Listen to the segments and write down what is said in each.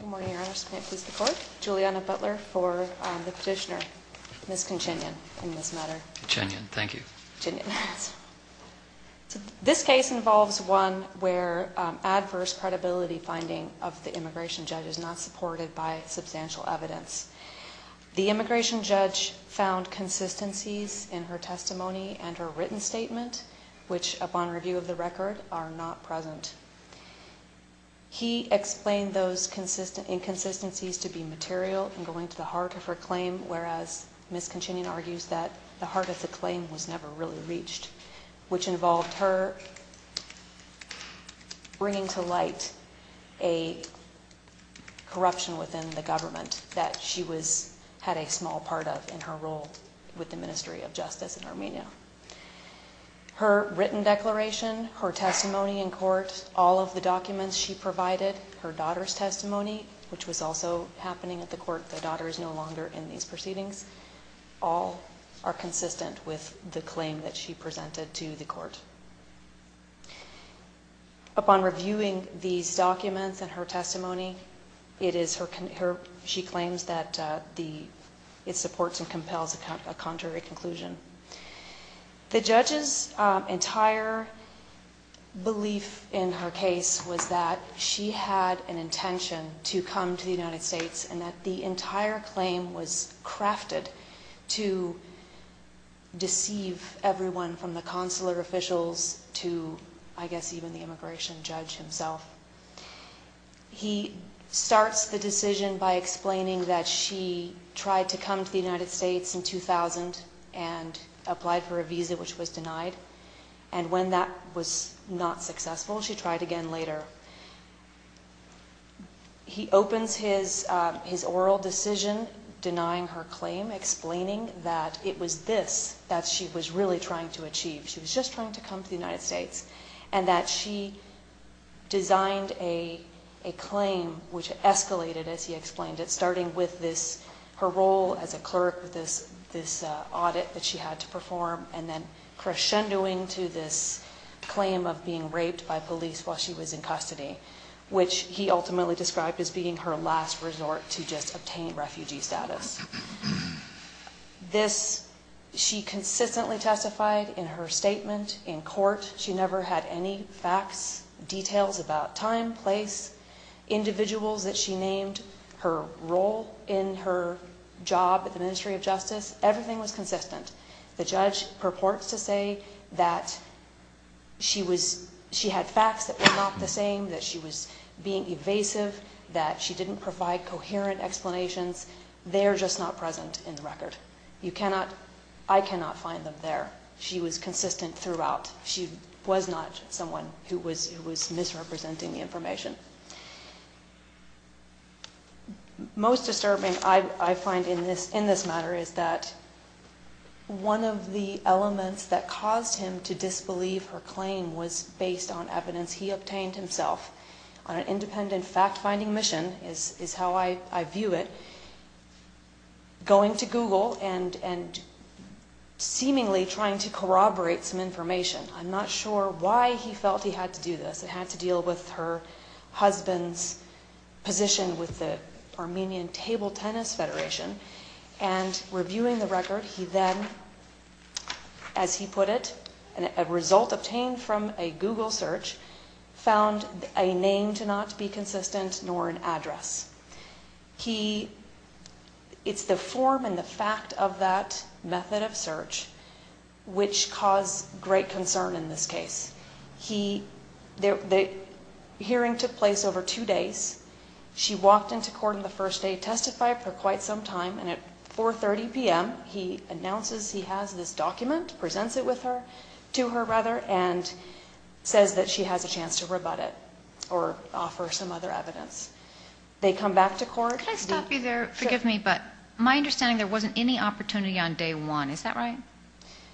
Good morning, Your Honor. I just can't please the court. Julianna Butler for the petitioner, Ms. Kanchinyan, in this matter. Kanchinyan, thank you. This case involves one where adverse credibility finding of the immigration judge is not supported by substantial evidence. The immigration judge found consistencies in her testimony and her written statement, which, upon review of the record, are not present. He explained those inconsistencies to be material and going to the heart of her claim, whereas Ms. Kanchinyan argues that the heart of the claim was never really reached, which involved her bringing to light a corruption within the government that she had a small part of in her role with the Ministry of Justice in Armenia. Her written declaration, her testimony in court, all of the documents she provided, her daughter's testimony, which was also happening at the court. The daughter is no longer in these proceedings. All are consistent with the claim that she presented to the court. Upon reviewing these documents and her testimony, she claims that it supports and compels a contrary conclusion. The judge's entire belief in her case was that she had an intention to come to the United States and that the entire claim was crafted to deceive everyone, from the consular officials to, I guess, even the immigration judge himself. He starts the decision by explaining that she tried to come to the United States in 2000 and applied for a visa, which was denied. And when that was not successful, she tried again later. He opens his oral decision denying her claim, explaining that it was this that she was really trying to achieve. She was just trying to come to the United States and that she designed a claim, which escalated, as he explained it, starting with her role as a clerk with this audit that she had to perform and then crescendoing to this claim of being raped by police while she was in custody, which he ultimately described as being her last resort to just obtain refugee status. She consistently testified in her statement in court. She never had any facts, details about time, place, individuals that she named, her role in her job at the Ministry of Justice. Everything was consistent. The judge purports to say that she had facts that were not the same, that she was being evasive, that she didn't provide coherent explanations. They are just not present in the record. I cannot find them there. She was consistent throughout. She was not someone who was misrepresenting the information. Most disturbing, I find, in this matter is that one of the elements that caused him to disbelieve her claim was based on evidence he obtained himself. On an independent fact-finding mission, is how I view it, going to Google and seemingly trying to corroborate some information. I'm not sure why he felt he had to do this. It had to deal with her husband's position with the Armenian Table Tennis Federation. Reviewing the record, he then, as he put it, a result obtained from a Google search, found a name to not be consistent nor an address. It's the form and the fact of that method of search which caused great concern in this case. The hearing took place over two days. She walked into court on the first day, testified for quite some time, and at 4.30 p.m., he announces he has this document, presents it to her, and says that she has a chance to rebut it or offer some other evidence. They come back to court. Can I stop you there? Forgive me, but my understanding, there wasn't any opportunity on day one. Is that right?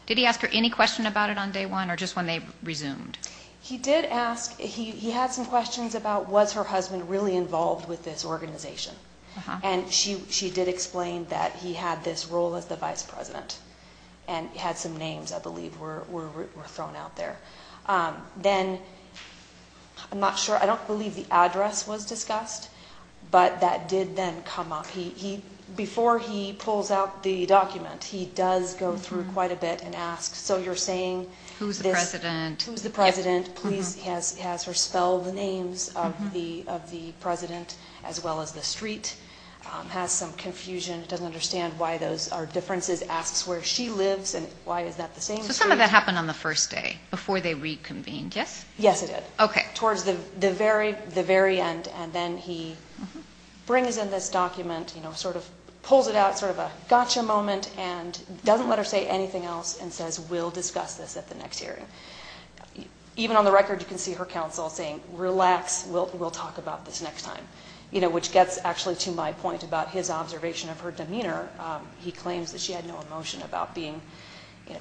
Did he ask her any question about it on day one or just when they resumed? He did ask. He had some questions about was her husband really involved with this organization, and she did explain that he had this role as the vice president and had some names, I believe, were thrown out there. Then, I'm not sure. I don't believe the address was discussed, but that did then come up. Before he pulls out the document, he does go through quite a bit and ask. Who's the president? Who's the president? He has her spell the names of the president as well as the street, has some confusion, doesn't understand why those are differences, asks where she lives and why is that the same street? So some of that happened on the first day before they reconvened, yes? Yes, it did. Okay. And then he brings in this document, sort of pulls it out, sort of a gotcha moment and doesn't let her say anything else and says, we'll discuss this at the next hearing. Even on the record, you can see her counsel saying, relax, we'll talk about this next time, which gets actually to my point about his observation of her demeanor. He claims that she had no emotion about being,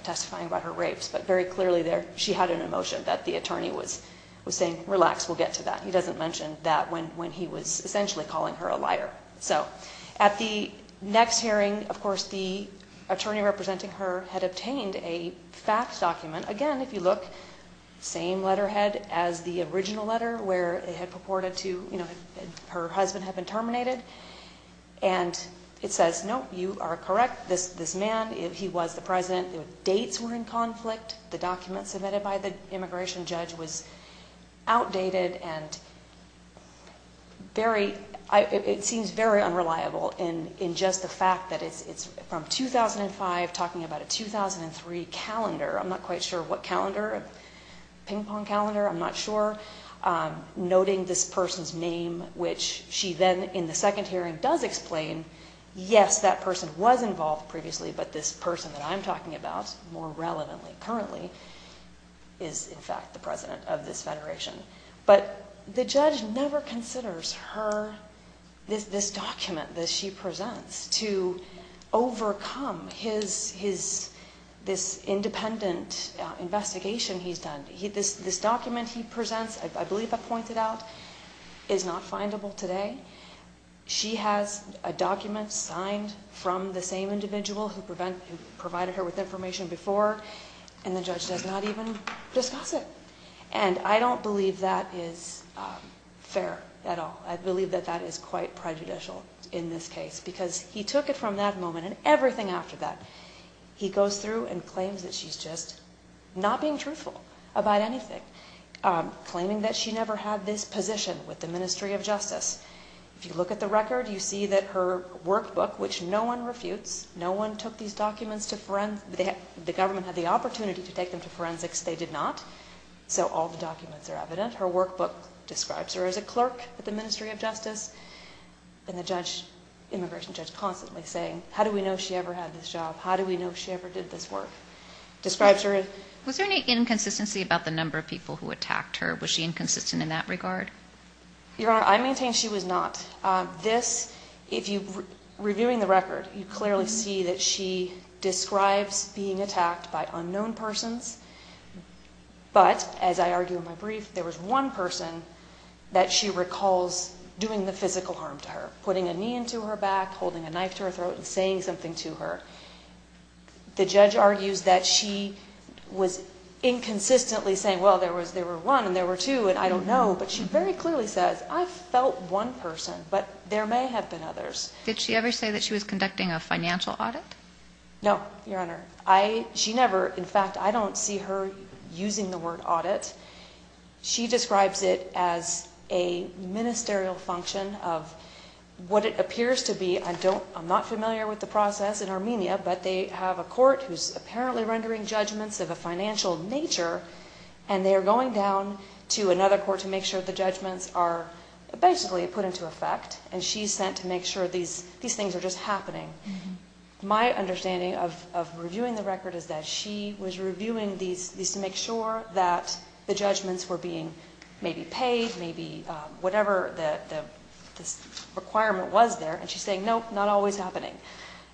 testifying about her rapes. But very clearly there, she had an emotion that the attorney was saying, relax, we'll get to that. He doesn't mention that when he was essentially calling her a liar. So at the next hearing, of course, the attorney representing her had obtained a fact document. Again, if you look, same letterhead as the original letter where it had purported to her husband had been terminated. And it says, no, you are correct, this man, he was the president. Dates were in conflict. The document submitted by the immigration judge was outdated and very, it seems very unreliable in just the fact that it's from 2005 talking about a 2003 calendar. I'm not quite sure what calendar, ping pong calendar, I'm not sure. Noting this person's name, which she then in the second hearing does explain, yes, that person was involved previously. But this person that I'm talking about more relevantly currently is in fact the president of this federation. But the judge never considers her, this document that she presents to overcome his, this independent investigation he's done. This document he presents, I believe I pointed out, is not findable today. She has a document signed from the same individual who provided her with information before and the judge does not even discuss it. And I don't believe that is fair at all. I believe that that is quite prejudicial in this case because he took it from that moment and everything after that. He goes through and claims that she's just not being truthful about anything, claiming that she never had this position with the Ministry of Justice. If you look at the record, you see that her workbook, which no one refutes, no one took these documents to, the government had the opportunity to take them to forensics. They did not. So all the documents are evident. Her workbook describes her as a clerk at the Ministry of Justice. And the judge, immigration judge, constantly saying, how do we know she ever had this job? How do we know she ever did this work? Describes her as... Was there any inconsistency about the number of people who attacked her? Was she inconsistent in that regard? Your Honor, I maintain she was not. This, if you, reviewing the record, you clearly see that she describes being attacked by unknown persons. But, as I argue in my brief, there was one person that she recalls doing the physical harm to her, putting a knee into her back, holding a knife to her throat, and saying something to her. The judge argues that she was inconsistently saying, well, there were one and there were two, and I don't know. But she very clearly says, I felt one person, but there may have been others. Did she ever say that she was conducting a financial audit? No, Your Honor. She never, in fact, I don't see her using the word audit. She describes it as a ministerial function of what it appears to be, I'm not familiar with the process in Armenia, but they have a court who's apparently rendering judgments of a financial nature. And they're going down to another court to make sure the judgments are basically put into effect. And she's sent to make sure these things are just happening. My understanding of reviewing the record is that she was reviewing these to make sure that the judgments were being maybe paid, maybe whatever the requirement was there. And she's saying, nope, not always happening.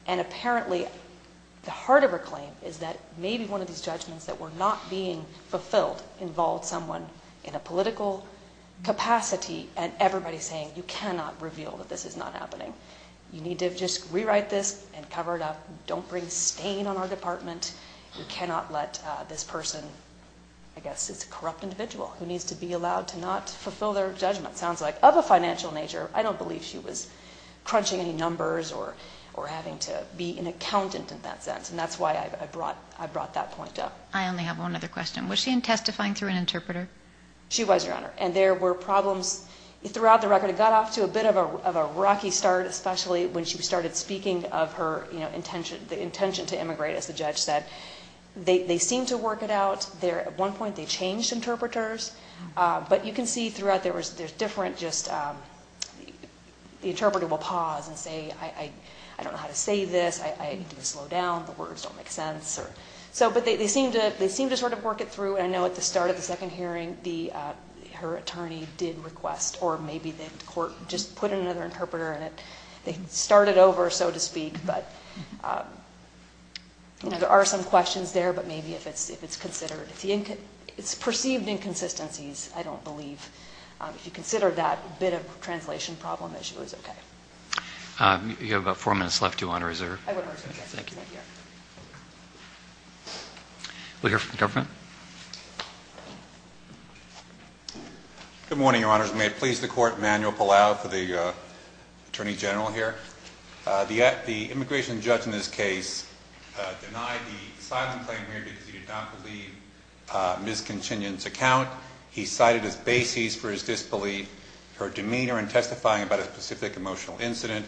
And apparently, the heart of her claim is that maybe one of these judgments that were not being fulfilled involved someone in a political capacity and everybody saying, you cannot reveal that this is not happening. You need to just rewrite this and cover it up. Don't bring stain on our department. You cannot let this person, I guess it's a corrupt individual who needs to be allowed to not fulfill their judgment, sounds like, of a financial nature. I don't believe she was crunching any numbers or having to be an accountant in that sense. And that's why I brought that point up. I only have one other question. She was, Your Honor. And there were problems throughout the record. It got off to a bit of a rocky start, especially when she started speaking of her intention to immigrate, as the judge said. They seemed to work it out. At one point, they changed interpreters. But you can see throughout, there's different just, the interpreter will pause and say, I don't know how to say this. I need to slow down. The words don't make sense. But they seemed to sort of work it through. And I know at the start of the second hearing, her attorney did request, or maybe the court just put another interpreter in it. They started over, so to speak. But, you know, there are some questions there. But maybe if it's considered, it's perceived inconsistencies, I don't believe. If you consider that bit of translation problem, that she was okay. You have about four minutes left, Your Honor. Is there? I would argue, yes. Thank you. We'll hear from the government. Good morning, Your Honors. May it please the Court, Emanuel Palau for the Attorney General here. The immigration judge in this case denied the asylum claim here because he did not believe Ms. Conchinian's account. He cited as bases for his disbelief, her demeanor in testifying about a specific emotional incident.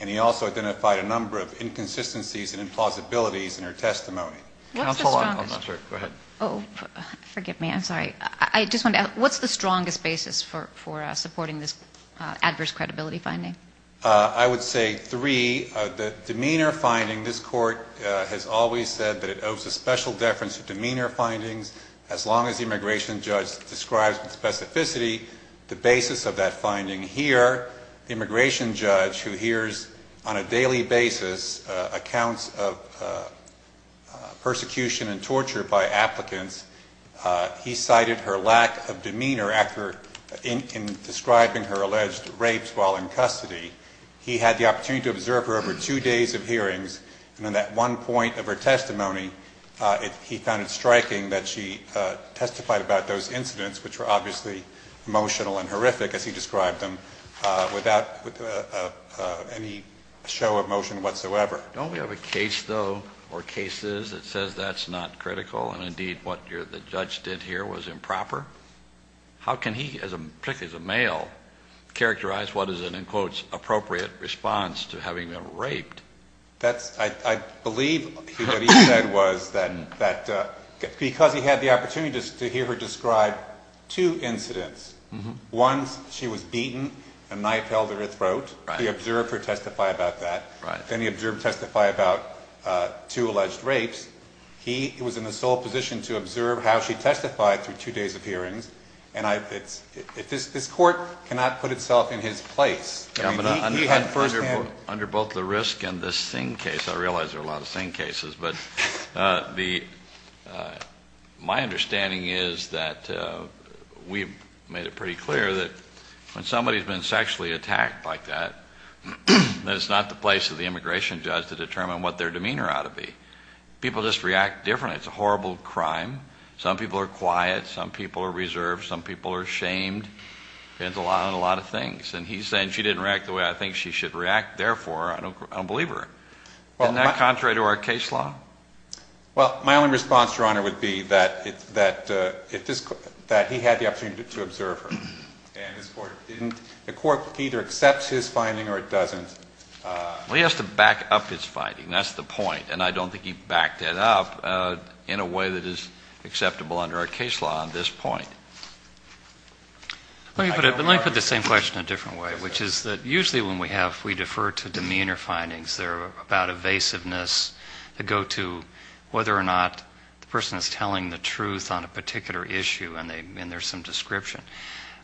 And he also identified a number of inconsistencies and implausibilities in her testimony. Counsel, I apologize. Go ahead. Oh, forgive me. I'm sorry. I just wanted to ask, what's the strongest basis for supporting this adverse credibility finding? I would say three. The demeanor finding, this Court has always said that it owes a special deference to demeanor findings. As long as the immigration judge describes with specificity the basis of that finding here, the immigration judge who hears on a daily basis accounts of persecution and torture by applicants, he cited her lack of demeanor in describing her alleged rapes while in custody. He had the opportunity to observe her over two days of hearings. And in that one point of her testimony, he found it striking that she testified about those incidents, which were obviously emotional and horrific, as he described them, without any show of emotion whatsoever. Don't we have a case, though, or cases that says that's not critical and, indeed, what the judge did here was improper? How can he, particularly as a male, characterize what is an, in quotes, appropriate response to having been raped? I believe what he said was that because he had the opportunity to hear her describe two incidents, one, she was beaten and a knife held her throat. He observed her testify about that. Then he observed her testify about two alleged rapes. He was in the sole position to observe how she testified through two days of hearings. And this Court cannot put itself in his place. Under both the risk and the Singh case, I realize there are a lot of Singh cases, but my understanding is that we've made it pretty clear that when somebody's been sexually attacked like that, that it's not the place of the immigration judge to determine what their demeanor ought to be. People just react differently. It's a horrible crime. Some people are quiet. Some people are reserved. Some people are shamed. It depends on a lot of things. And he's saying she didn't react the way I think she should react. Therefore, I don't believe her. Isn't that contrary to our case law? Well, my only response, Your Honor, would be that he had the opportunity to observe her. And the Court either accepts his finding or it doesn't. Well, he has to back up his finding. That's the point. And I don't think he backed it up in a way that is acceptable under our case law on this point. Let me put the same question a different way, which is that usually when we have, we defer to demeanor findings that are about evasiveness that go to whether or not the person is telling the truth on a particular issue and there's some description.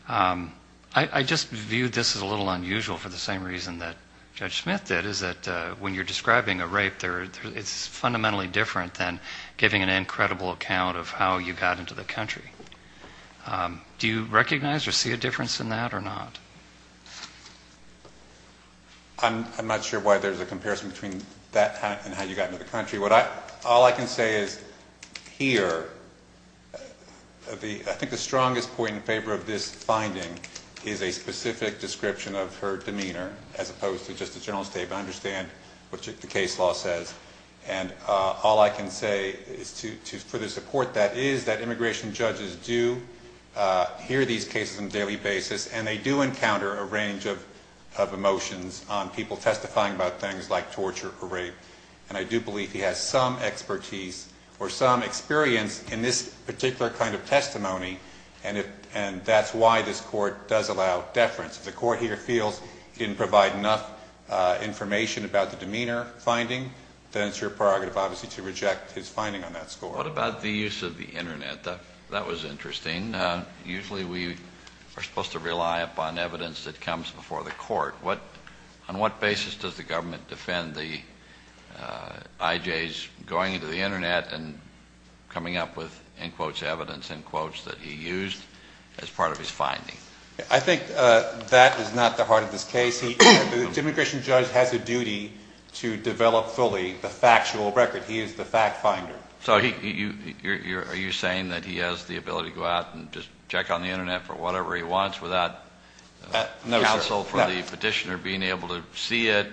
I just view this as a little unusual for the same reason that Judge Smith did, is that when you're describing a rape, it's fundamentally different than giving an incredible account of how you got into the country. Do you recognize or see a difference in that or not? I'm not sure why there's a comparison between that and how you got into the country. All I can say is here, I think the strongest point in favor of this finding is a specific description of her demeanor, as opposed to just a general statement. I understand what the case law says. And all I can say is to further support that is that immigration judges do hear these cases on a daily basis and they do encounter a range of emotions on people testifying about things like torture or rape. And I do believe he has some expertise or some experience in this particular kind of testimony. And that's why this court does allow deference. If the court here feels he didn't provide enough information about the demeanor finding, then it's your prerogative, obviously, to reject his finding on that score. What about the use of the Internet? That was interesting. Usually we are supposed to rely upon evidence that comes before the court. On what basis does the government defend the IJs going into the Internet and coming up with, in quotes, evidence, in quotes, that he used as part of his finding? I think that is not the heart of this case. The immigration judge has a duty to develop fully the factual record. He is the fact finder. So are you saying that he has the ability to go out and just check on the Internet for whatever he wants without counsel for the petitioner being able to see it,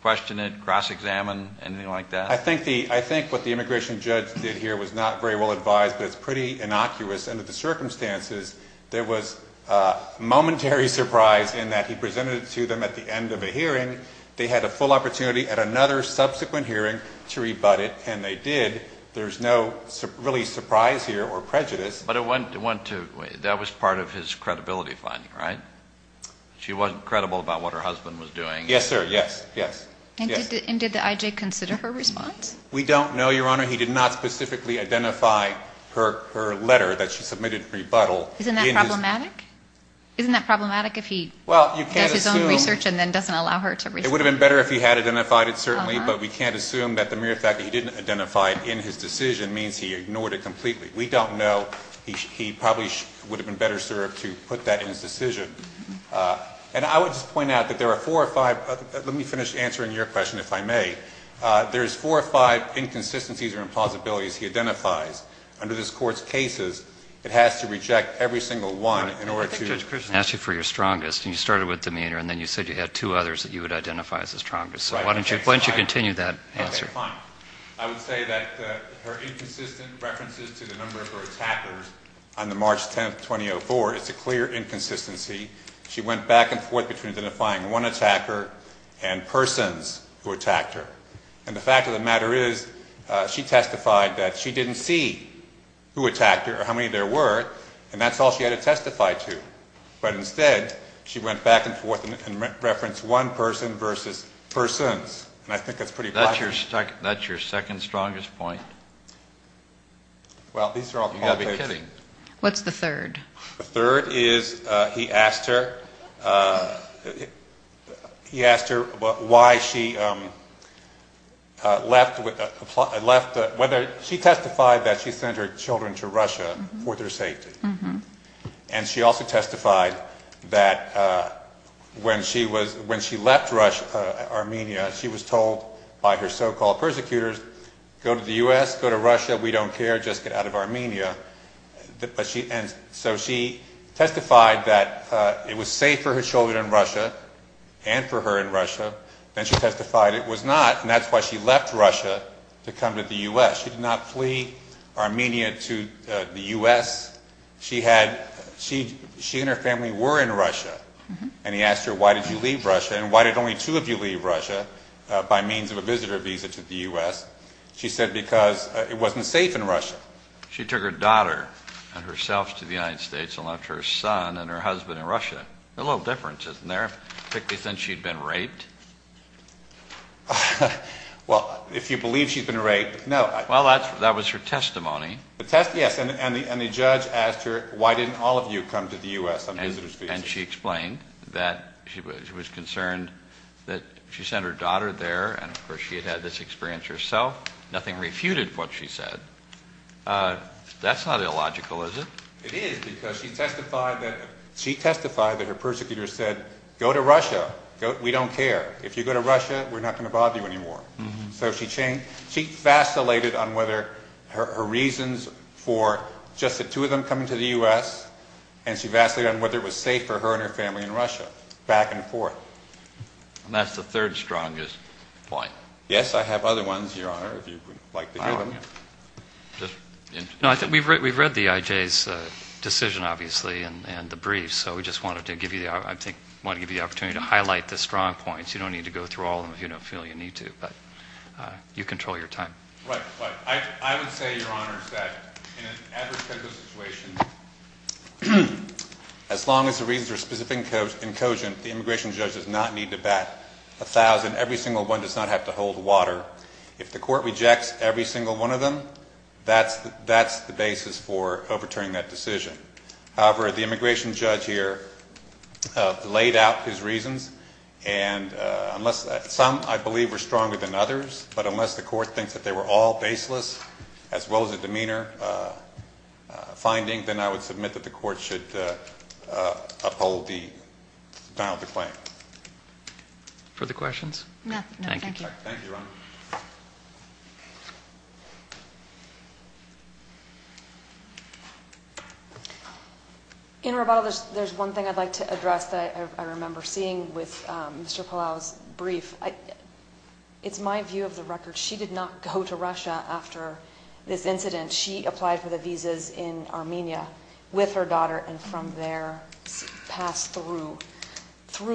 question it, cross-examine, anything like that? I think what the immigration judge did here was not very well advised, but it's pretty innocuous. Under the circumstances, there was a momentary surprise in that he presented it to them at the end of a hearing. They had a full opportunity at another subsequent hearing to rebut it, and they did. There's no really surprise here or prejudice. But it went to ñ that was part of his credibility finding, right? She wasn't credible about what her husband was doing. Yes, sir. Yes. Yes. And did the IJ consider her response? We don't know, Your Honor. He did not specifically identify her letter that she submitted in rebuttal. Isn't that problematic? Isn't that problematic if he does his own research and then doesn't allow her to research it? It would have been better if he had identified it, certainly, but we can't assume that the mere fact that he didn't identify it in his decision means he ignored it completely. We don't know. He probably would have been better served to put that in his decision. And I would just point out that there are four or five ñ let me finish answering your question, if I may. There's four or five inconsistencies or implausibilities he identifies. Under this Court's cases, it has to reject every single one in order to ñ I think Judge Christian asked you for your strongest, and you started with demeanor, and then you said you had two others that you would identify as the strongest. So why don't you continue that answer? Okay, fine. I would say that her inconsistent references to the number of her attackers on the March 10th, 2004, it's a clear inconsistency. She went back and forth between identifying one attacker and persons who attacked her. And the fact of the matter is she testified that she didn't see who attacked her or how many there were, and that's all she had to testify to. But instead, she went back and forth and referenced one person versus persons. And I think that's pretty positive. That's your second strongest point? Well, these are all complicated. You've got to be kidding. What's the third? The third is he asked her why she left ñ she testified that she sent her children to Russia for their safety. And she also testified that when she left Armenia, she was told by her so-called persecutors, go to the U.S., go to Russia, we don't care, just get out of Armenia. And so she testified that it was safe for her children in Russia and for her in Russia. Then she testified it was not, and that's why she left Russia to come to the U.S. She did not flee Armenia to the U.S. She and her family were in Russia. And he asked her why did you leave Russia and why did only two of you leave Russia by means of a visitor visa to the U.S. She said because it wasn't safe in Russia. She took her daughter and herself to the United States and left her son and her husband in Russia. A little difference, isn't there, particularly since she'd been raped? Well, if you believe she'd been raped, no. Well, that was her testimony. The testimony, yes. And the judge asked her why didn't all of you come to the U.S. on visitor's visas. And she explained that she was concerned that she sent her daughter there and, of course, she had had this experience herself. Nothing refuted what she said. That's not illogical, is it? It is because she testified that her persecutor said go to Russia. We don't care. If you go to Russia, we're not going to bother you anymore. So she vacillated on whether her reasons for just the two of them coming to the U.S. and she vacillated on whether it was safe for her and her family in Russia, back and forth. And that's the third strongest point. Yes, I have other ones, Your Honor, if you would like to hear them. We've read the I.J.'s decision, obviously, and the brief, so we just wanted to give you the opportunity to highlight the strong points. You don't need to go through all of them if you don't feel you need to, but you control your time. Right. I would say, Your Honor, that in an adversarial situation, as long as the reasons are specific and cogent, the immigration judge does not need to bat a thousand. Every single one does not have to hold water. If the court rejects every single one of them, that's the basis for overturning that decision. However, the immigration judge here laid out his reasons, and some, I believe, were stronger than others, but unless the court thinks that they were all baseless, as well as a demeanor finding, then I would submit that the court should uphold the final decline. Further questions? No, thank you. Thank you, Your Honor. In Roboto, there's one thing I'd like to address that I remember seeing with Mr. Palau's brief. It's my view of the record. She did not go to Russia after this incident. She applied for the visas in Armenia with her daughter and from there passed through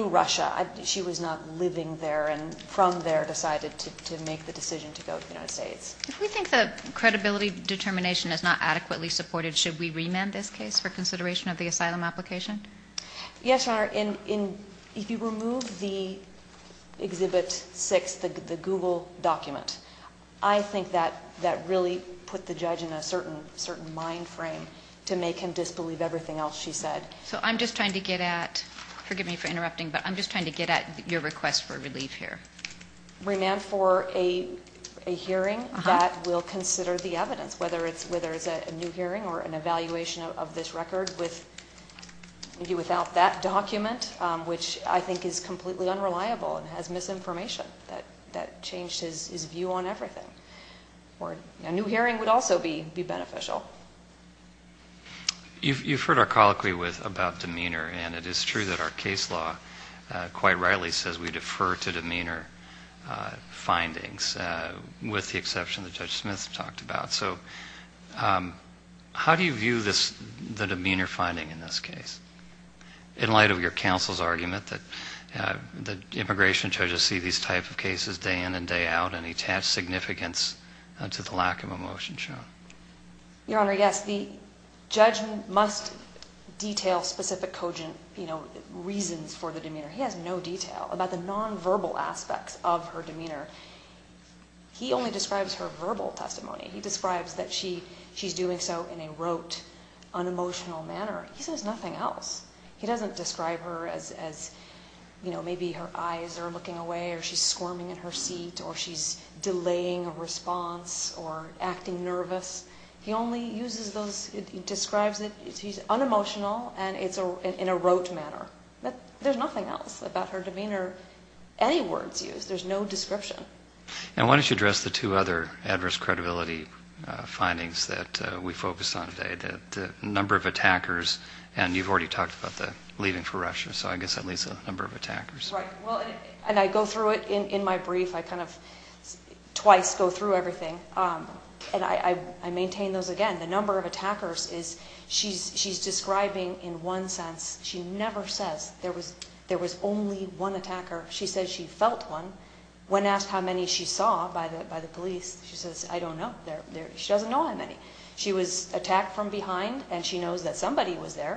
Russia. She was not living there and from there decided to make the decision to go to the United States. If we think the credibility determination is not adequately supported, should we remand this case for consideration of the asylum application? Yes, Your Honor. If you remove the Exhibit 6, the Google document, I think that really put the judge in a certain mind frame to make him disbelieve everything else she said. So I'm just trying to get at, forgive me for interrupting, but I'm just trying to get at your request for relief here. Remand for a hearing that will consider the evidence, whether it's a new hearing or an evaluation of this record without that document, which I think is completely unreliable and has misinformation that changed his view on everything. A new hearing would also be beneficial. You've heard our colloquy about demeanor, and it is true that our case law quite rightly says we defer to demeanor findings, with the exception that Judge Smith talked about. So how do you view the demeanor finding in this case in light of your counsel's argument that immigration judges see these type of cases day in and day out and attach significance to the lack of emotion shown? Your Honor, yes, the judge must detail specific cogent reasons for the demeanor. He has no detail about the nonverbal aspects of her demeanor. He only describes her verbal testimony. He describes that she's doing so in a rote, unemotional manner. He says nothing else. He doesn't describe her as maybe her eyes are looking away or she's squirming in her seat or she's delaying a response or acting nervous. He only uses those, he describes it, he's unemotional and it's in a rote manner. There's nothing else about her demeanor, any words used. There's no description. And why don't you address the two other adverse credibility findings that we focused on today, the number of attackers, and you've already talked about the leaving for Russia, so I guess that leaves a number of attackers. Right. Well, and I go through it in my brief. I kind of twice go through everything, and I maintain those again. The number of attackers is she's describing in one sense. She never says there was only one attacker. She says she felt one. When asked how many she saw by the police, she says, I don't know. She doesn't know how many. She was attacked from behind and she knows that somebody was there.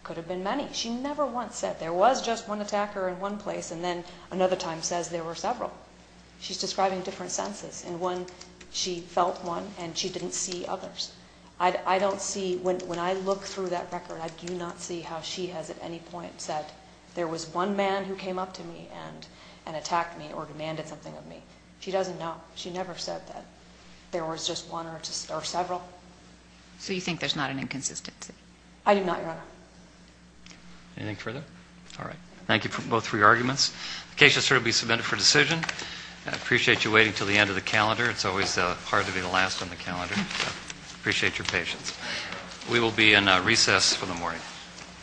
It could have been many. She never once said there was just one attacker in one place and then another time says there were several. She's describing different senses. In one, she felt one and she didn't see others. I don't see, when I look through that record, and I do not see how she has at any point said there was one man who came up to me and attacked me or demanded something of me. She doesn't know. She never said that there was just one or several. So you think there's not an inconsistency? I do not, Your Honor. Anything further? All right. Thank you for both of your arguments. The case will certainly be submitted for decision. I appreciate you waiting until the end of the calendar. It's always hard to be the last on the calendar. I appreciate your patience. We will be in recess for the morning.